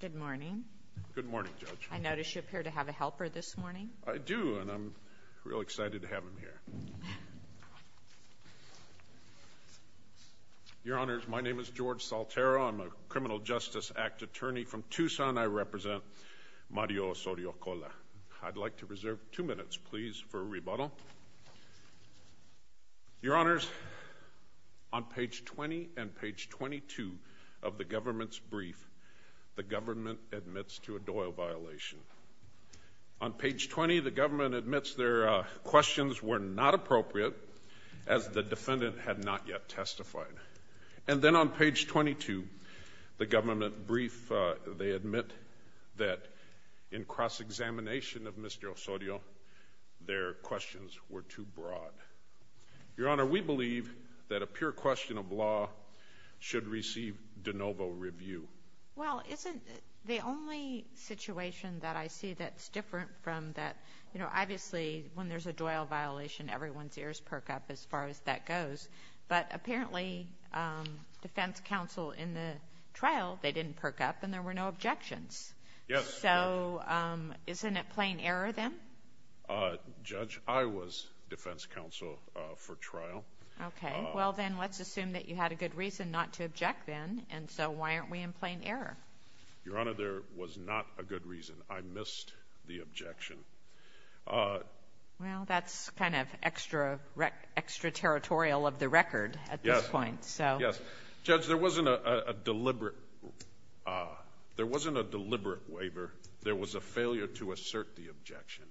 Good morning. I notice you appear to have a helper this morning. I do and I'm real excited to have him here. Your Honors, my name is George Saltero. I'm a Criminal Justice Act attorney from Tucson. I represent Mario Osorio-Cola. I'd like to reserve two minutes please for a rebuttal. Your Honors, on page 20 and page 22 of the government's brief, the government admits to a Doyle violation. On page 20, the government admits their questions were not appropriate as the defendant had not yet testified. And then on page 22, the government brief, they admit that in cross-examination of Mr. Osorio, their questions were too broad. Your Honor, we believe that a pure question of law should receive de novo review. Well, isn't the only situation that I see that's different from that, you know, obviously when there's a Doyle violation, everyone's ears perk up as far as that goes. But apparently, defense counsel in the trial, they didn't perk up and there were no objections. Yes. So, isn't it in plain error then? Judge, I was defense counsel for trial. Okay. Well, then let's assume that you had a good reason not to object then, and so why aren't we in plain error? Your Honor, there was not a good reason. I missed the objection. Well, that's kind of extra, extra territorial of the record at this point. So, yes. Judge, there wasn't a deliberate, there wasn't a deliberate waiver. There was a failure to the objection.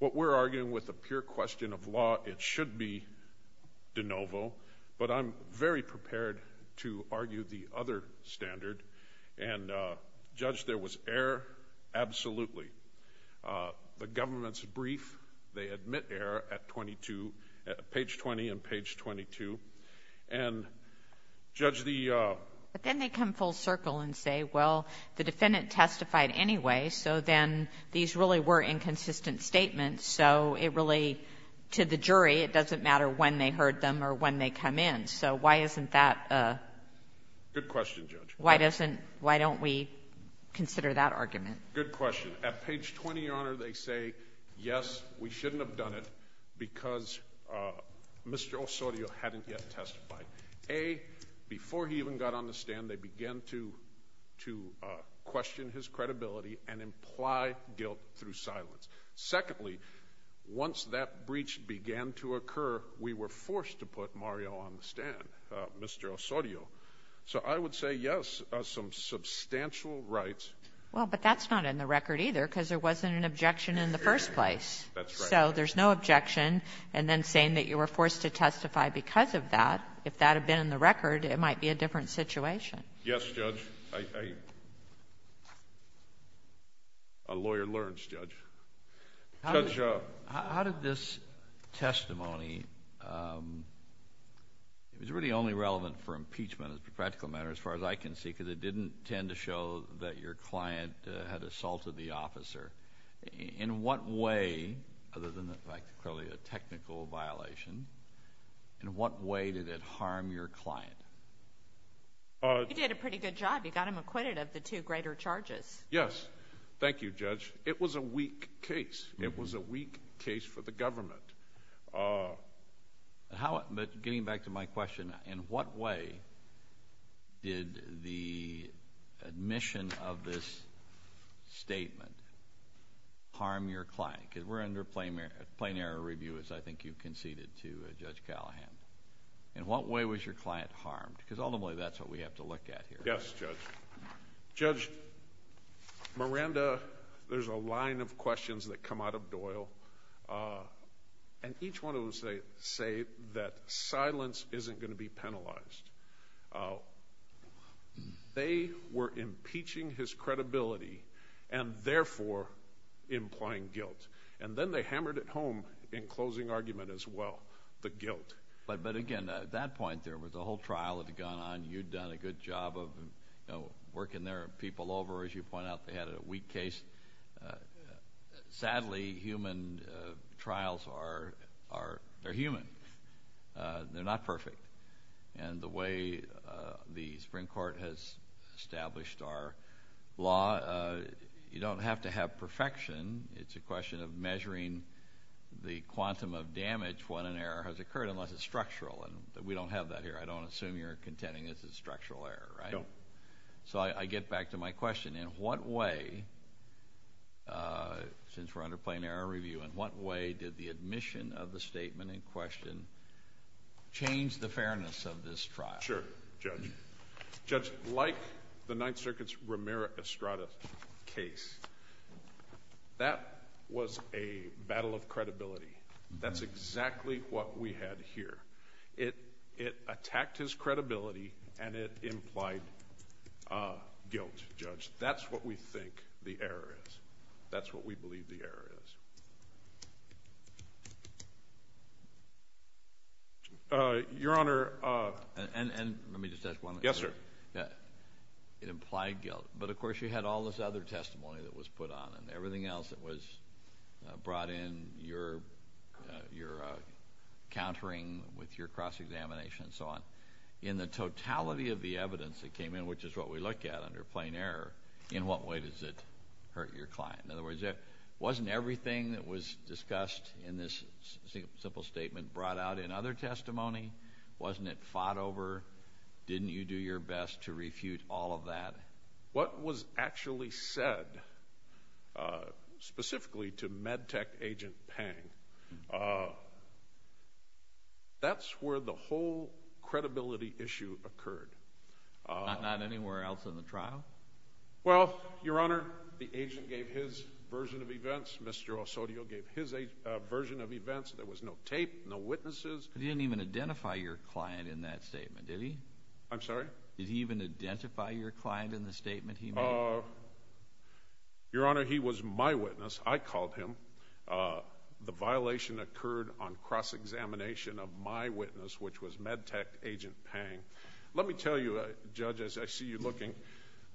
What we're arguing with a pure question of law, it should be de novo, but I'm very prepared to argue the other standard, and Judge, there was error absolutely. The government's brief, they admit error at 22, page 20 and page 22, and Judge, the... But then they come full circle and say, well, the defendant testified anyway, so then these really were inconsistent statements. So it really, to the jury, it doesn't matter when they heard them or when they come in. So why isn't that a... Good question, Judge. Why doesn't, why don't we consider that argument? Good question. At page 20, Your Honor, they say, yes, we shouldn't have done it because Mr. Osorio hadn't yet testified. A, before he even got on the stand, we questioned his credibility and implied guilt through silence. Secondly, once that breach began to occur, we were forced to put Mario on the stand, Mr. Osorio. So I would say, yes, some substantial rights... Well, but that's not in the record either, because there wasn't an objection in the first place. That's right. So there's no objection, and then saying that you were forced to testify because of that, if that was true. A lawyer learns, Judge. Judge... How did this testimony, it was really only relevant for impeachment as a practical matter, as far as I can see, because it didn't tend to show that your client had assaulted the officer. In what way, other than, like, clearly a technical violation, in what way did it harm your client? He did a pretty good job. You got him acquitted of the two greater charges. Yes. Thank you, Judge. It was a weak case. It was a weak case for the government. But getting back to my question, in what way did the admission of this statement harm your client? Because we're under plain error review, as I think you conceded to Judge Callahan. In what way was your client harmed? Because ultimately that's what we have to look at here. Yes, Judge. Judge, Miranda, there's a line of questions that come out of Doyle, and each one of them say that silence isn't going to be penalized. They were impeaching his credibility, and therefore implying guilt. And then they hammered it home in closing argument as well, the guilt. But again, at that point, there was a whole trial that had gone on. You'd done a good job of, you know, working their people over. As you point out, they had a weak case. Sadly, human trials are human. They're not perfect. And the way the Supreme Court has established our law, you don't have to have perfection. It's a question of measuring the quantum of damage when an error has occurred, unless it's structural. And we don't have that here. I don't assume you're contending it's a structural error, right? No. So I get back to my question. In what way, since we're under plain error review, in what way did the admission of the statement in question change the fairness of this trial? Sure, Judge. Judge, like the Ninth Circuit's Mira Estrada case, that was a battle of credibility. That's exactly what we had here. It attacked his credibility, and it implied guilt, Judge. That's what we think the error is. That's implied guilt. But, of course, you had all this other testimony that was put on and everything else that was brought in, your countering with your cross-examination and so on. In the totality of the evidence that came in, which is what we look at under plain error, in what way does it hurt your client? In other words, wasn't everything that was discussed in this simple statement brought out in other testimony? Wasn't it fought over? Didn't you do your best to refute all of that? What was actually said, specifically to Medtech Agent Pang, that's where the whole credibility issue occurred. Not anywhere else in the trial? Well, Your Honor, the agent gave his version of events. Mr. Osorio gave his version of events. There was no tape, no witnesses. He didn't even identify your client in that statement, did he? I'm sorry? Did he even identify your client in the statement he made? Your Honor, he was my witness. I called him. The violation occurred on cross-examination of my witness, which was Medtech Agent Pang. Let me tell you, Judge, as I see you looking,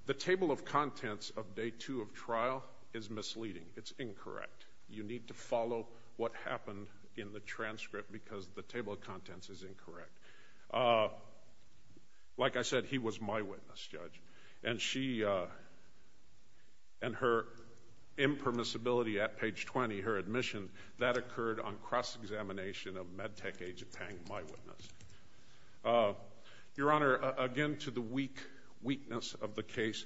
the table of contents of Day 2 of trial is misleading. It's incorrect. You need to follow what happened in the transcript because the table of contents is incorrect. Like I said, he was my witness, Judge, and her impermissibility at page 20, her admission, that occurred on cross-examination of Medtech Agent Pang, my witness. Your Honor, again to the weakness of the case,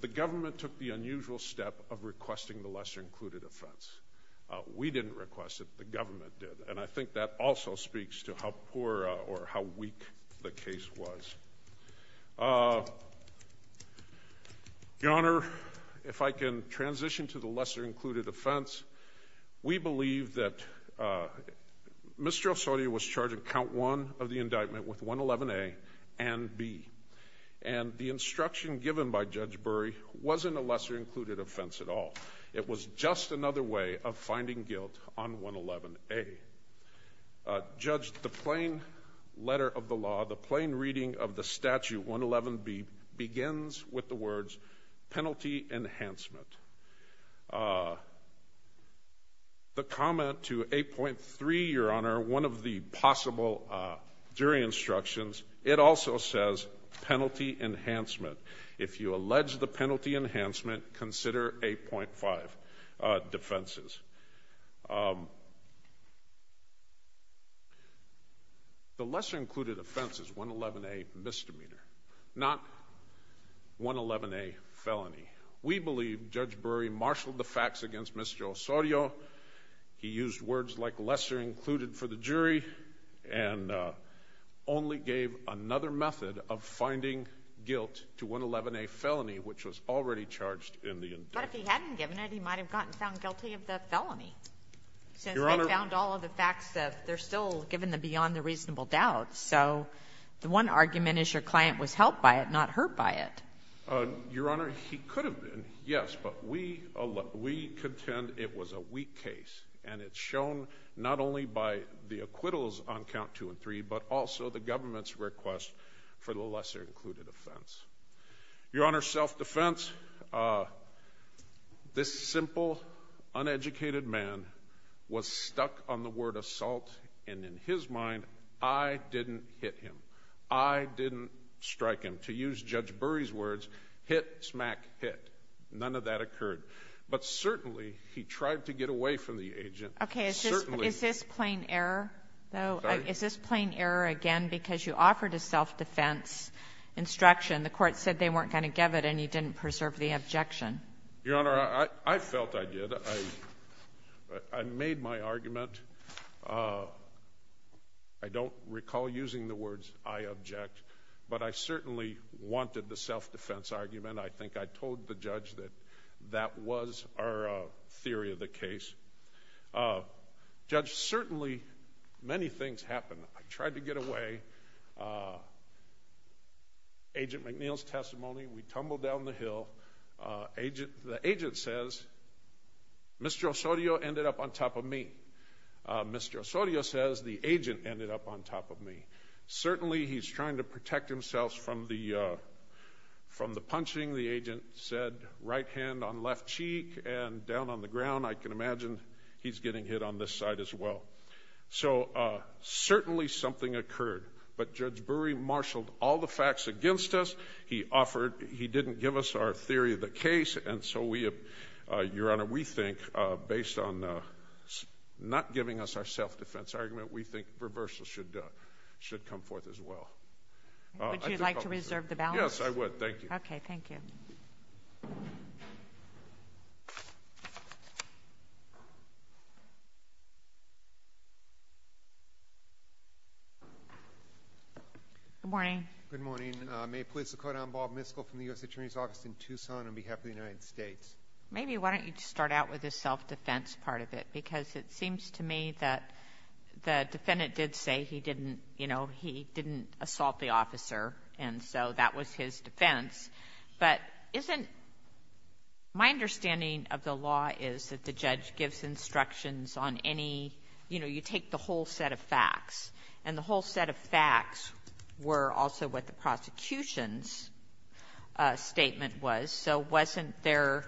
the government took the unusual step of requesting the lesser-included offense. We didn't request it. The government did. And I think that also speaks to how poor or how weak the case was. Your Honor, if I can transition to the lesser-included offense, we believe that Mr. Osorio was charged at count one of the indictment with 111A and B. And the instruction given by Judge Burry wasn't a lesser-included offense at all. It was just another way of finding guilt on 111A. Judge, the plain letter of the law, the plain reading of the statute, 111B, begins with the words, penalty enhancement. The comment to 8.3, Your Honor, one of the possible jury instructions, it also says, penalty enhancement. If you allege the penalty enhancement, consider 8.5 defenses. The lesser-included offense is 111A misdemeanor, not 111A felony. We believe Judge Burry marshaled the facts against Mr. Osorio. He used words like lesser-included for the jury, and only gave another method of finding guilt to 111A felony, which was already charged in the indictment. But if he hadn't given it, he might have gotten found guilty of the felony, since they found all of the facts that they're still given the beyond the reasonable doubt. So the one argument is your client was helped by it, not hurt by it. Your Honor, he could have been, yes, but we contend it was a weak case. And it's shown not only by the acquittals on count two and three, but also the government's request for the lesser-included offense. Your Honor, self-defense, this simple, uneducated man was stuck on the word assault, and in his mind, I didn't hit him. I didn't strike him. To use Judge Burry's words, hit, smack, hit. None of that occurred. But certainly, he tried to get away from the agent. Certainly. Okay. Is this plain error, though? Sorry? Is this plain error, again, because you offered a self-defense instruction. The court said they weren't going to give it, and you didn't preserve the objection. Your Honor, I felt I did. I made my argument. I don't recall using the words, I object. But I certainly wanted the self-defense argument. I think I told the judge that that was our theory of the case. Judge, certainly, many things happened. I tried to get away. Agent McNeil's testimony, we tumbled down the hill. The agent says, Mr. Osorio ended up on top of me. Mr. Osorio says, the agent ended up on top of me. Certainly, he's trying to protect himself from the punching. The agent said, right hand on left cheek and down on the ground. I can imagine he's getting hit on this side as well. So certainly, something occurred. But Judge Burry marshaled all the facts against us. He offered, he didn't give us our theory of the case. And so we, Your Honor, we think, based on not giving us our self-defense argument, we think reversal should come forth as well. Would you like to reserve the balance? Yes, I would. Thank you. Okay, thank you. Good morning. Good morning. May it please the Court, I'm Bob Miskell from the U.S. Attorney's Office in Tucson on behalf of the United States. Maybe why don't you just start out with the self-defense part of it? Because it seems to me that the defendant did say he didn't, you know, he didn't assault the officer. And so that was his defense. But isn't my understanding of the law is that the judge gives instructions on any, you know, you take the whole set of facts, and the whole set of facts were also what the prosecution's statement was. So wasn't there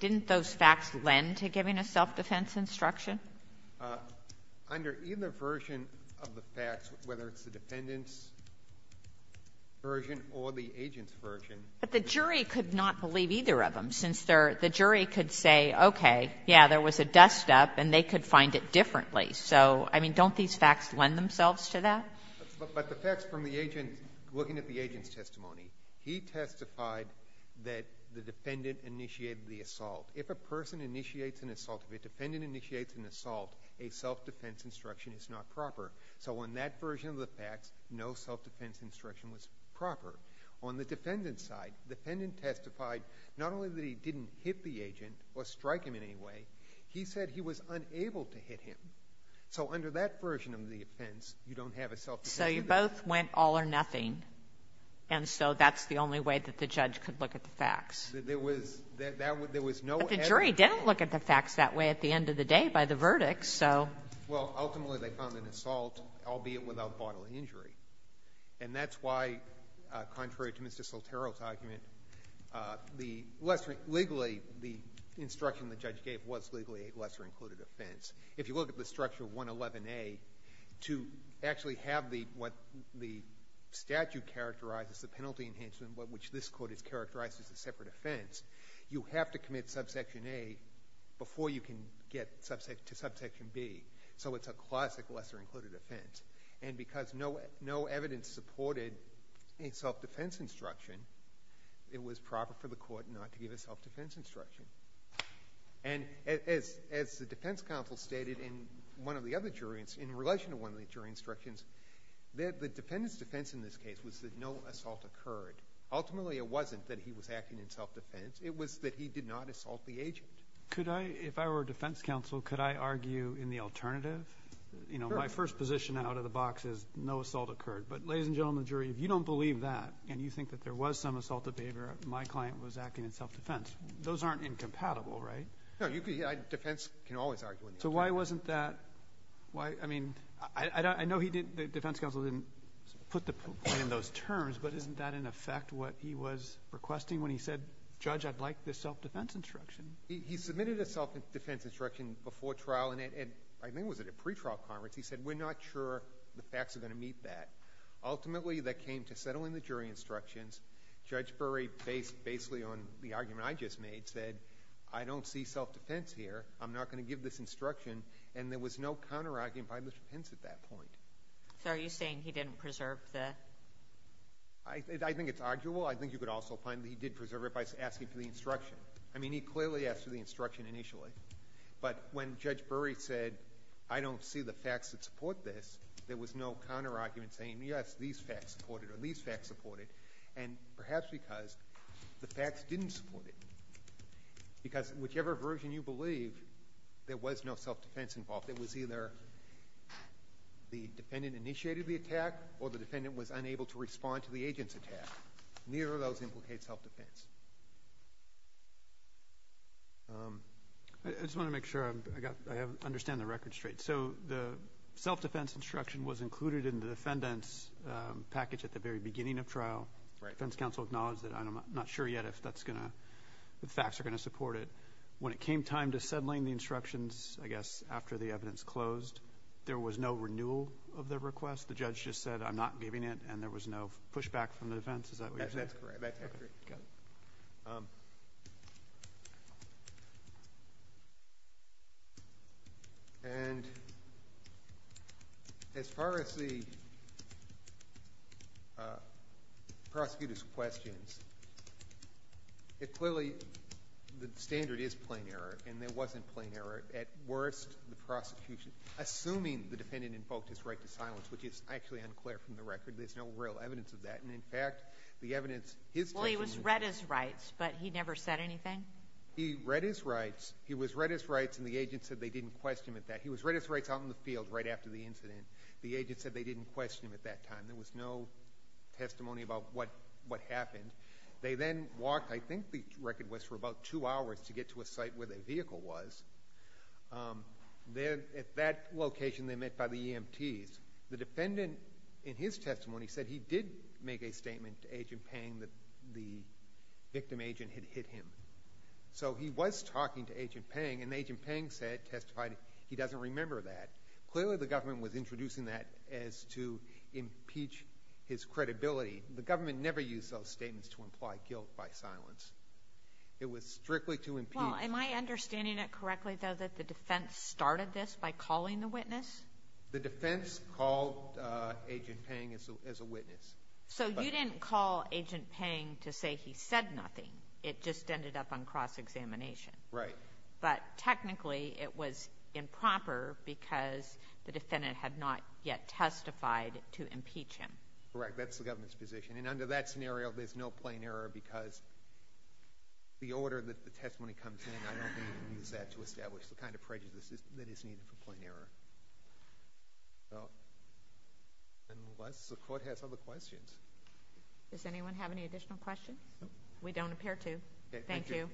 didn't those facts lend to giving a self-defense instruction? Under either version of the facts, whether it's the defendant's version or the agent's version. But the jury could not believe either of them, since the jury could say, okay, yeah, there was a dust-up, and they could find it differently. So, I mean, don't these facts lend themselves to that? But the facts from the agent, looking at the agent's testimony, he testified that the defendant initiated the assault. If a person initiates an assault, if a defendant initiates an assault, a self-defense instruction is not proper. So on that version of the facts, no self-defense instruction was proper. On the defendant's side, the defendant testified not only that he didn't hit the agent or strike him in any way, he said he was unable to hit him. So under that version So you both went all or nothing. And so that's the only way that the judge could look at the facts. There was no evidence. But the jury didn't look at the facts that way at the end of the day by the verdict. So. Well, ultimately, they found an assault, albeit without bodily injury. And that's why, contrary to Mr. Sotero's argument, the lesser legally, the instruction the judge gave was legally a lesser-included offense. If you look at the structure of 111A, to actually have what the statute characterizes, the penalty enhancement, which this Court has characterized as a separate offense, you have to commit subsection A before you can get to subsection B. So it's a classic lesser-included offense. And because no evidence supported a self-defense instruction, it was proper for the court not to give a self-defense instruction. And as the defense counsel stated in one of the other jury instructions, in relation to one of the jury instructions, the defendant's defense in this case was that no assault occurred. Ultimately, it wasn't that he was acting in self-defense. It was that he did not assault the agent. Could I, if I were a defense counsel, could I argue in the alternative? You know, my first position out of the box is no assault occurred. But ladies and gentlemen of the jury, if you don't believe that and you think that there was some assaultive behavior, my client was acting in self-defense. Those aren't incompatible, right? No, you could, defense can always argue in the alternative. So why wasn't that, why, I mean, I know he didn't, the defense counsel didn't put the point in those terms. But isn't that in effect what he was requesting when he said, Judge, I'd like this self-defense instruction? He submitted a self-defense instruction before trial, and I think it was at a pretrial conference. He said, we're not sure the facts are going to meet that. Ultimately, that came to settling the jury instructions. Judge Burry, based basically on the argument I just made, said, I don't see self-defense here. I'm not going to give this instruction. And there was no counter-argument by Mr. Pence at that point. So are you saying he didn't preserve that? I think it's arguable. I think you could also find that he did preserve it by asking for the instruction. I mean, he clearly asked for the instruction initially. But when Judge Burry said, I don't see the facts that support this, there was no counter-argument saying, yes, these facts support it or these facts support it. And perhaps because the facts didn't support it. Because whichever version you believe, there was no self-defense involved. It was either the defendant initiated the attack or the defendant was unable to respond to the agent's attack. Neither of those implicate self-defense. I just want to make sure I understand the record straight. So the self-defense instruction was included in the defendant's package at the very beginning of trial. Defense counsel acknowledged it. I'm not sure yet if that's going to, the facts are going to support it. When it came time to settling the instructions, I guess, after the evidence closed, there was no renewal of the request. The judge just said, I'm not giving it, and there was no pushback from the defense. Is that what you're saying? That's correct, that's accurate. Okay, got it. And as far as the prosecutor's questions, it clearly, the standard is plain error, and there wasn't plain error at worst. The prosecution, assuming the defendant invoked his right to silence, which is actually unclear from the record. There's no real evidence of that. And in fact, the evidence his taking- But he never said anything? He read his rights. He was read his rights, and the agent said they didn't question him at that. He was read his rights out in the field right after the incident. The agent said they didn't question him at that time. There was no testimony about what happened. They then walked, I think the record was, for about two hours to get to a site where the vehicle was. Then at that location, they met by the EMTs. The defendant, in his testimony, said he did make a statement to Agent Peng that the victim agent had hit him. So he was talking to Agent Peng, and Agent Peng testified he doesn't remember that. Clearly, the government was introducing that as to impeach his credibility. The government never used those statements to imply guilt by silence. It was strictly to impeach- Well, am I understanding it correctly, though, that the defense started this by calling the witness? The defense called Agent Peng as a witness. So you didn't call Agent Peng to say he said nothing. It just ended up on cross-examination. Right. But technically, it was improper because the defendant had not yet testified to impeach him. Correct, that's the government's position. And under that scenario, there's no plain error because the order that the testimony comes in, I don't think you can use that to establish the kind of prejudice that is needed for plain error. Unless the court has other questions. Does anyone have any additional questions? We don't appear to. Thank you.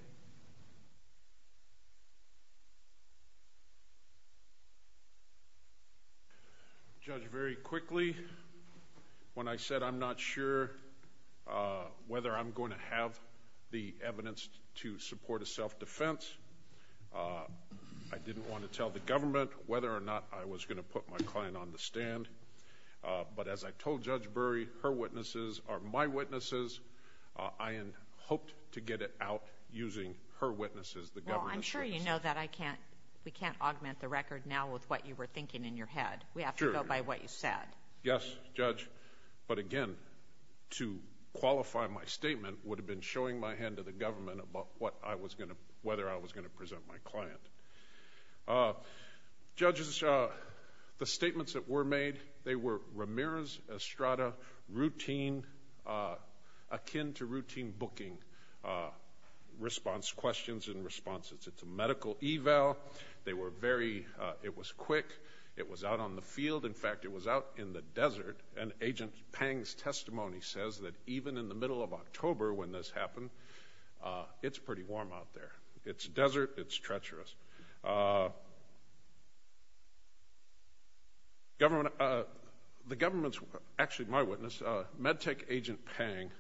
Judge, very quickly, when I said I'm not sure whether I'm going to have the evidence to support a self-defense, I didn't want to tell the government whether or not I was going to put my client on the stand. But as I told Judge Bury, her witnesses are my witnesses. I had hoped to get it out using her witnesses, the government's witnesses. Well, I'm sure you know that we can't augment the record now with what you were thinking in your head. We have to go by what you said. Yes, Judge. But again, to qualify my statement would have been showing my hand to the government about whether I was going to present my client. Judges, the statements that were made, they were Ramirez, Estrada, akin to routine booking response questions and responses. It's a medical eval. It was quick. It was out on the field. In fact, it was out in the desert. And Agent Pang's testimony says that even in the middle of October when this happened, it's pretty warm out there. It's desert. It's treacherous. The government's, actually, my witness, Medtech Agent Pang,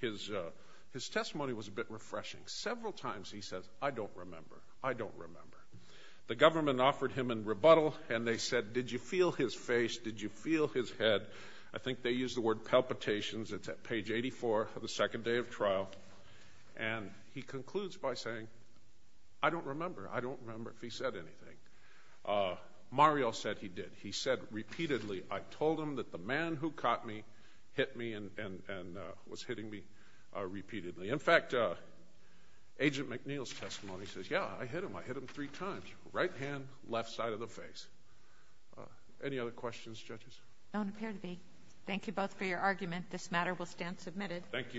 his testimony was a bit refreshing. Several times he says, I don't remember. I don't remember. The government offered him in rebuttal, and they said, did you feel his face? Did you feel his head? I think they used the word palpitations. It's at page 84 of the second day of trial. And he concludes by saying, I don't remember. I don't remember if he said anything. Mario said he did. He said repeatedly, I told him that the man who caught me hit me and was hitting me repeatedly. In fact, Agent McNeil's testimony says, yeah, I hit him. I hit him three times. Right hand, left side of the face. Any other questions, judges? None appear to be. Thank you both for your argument. This matter will stand submitted. Thank you.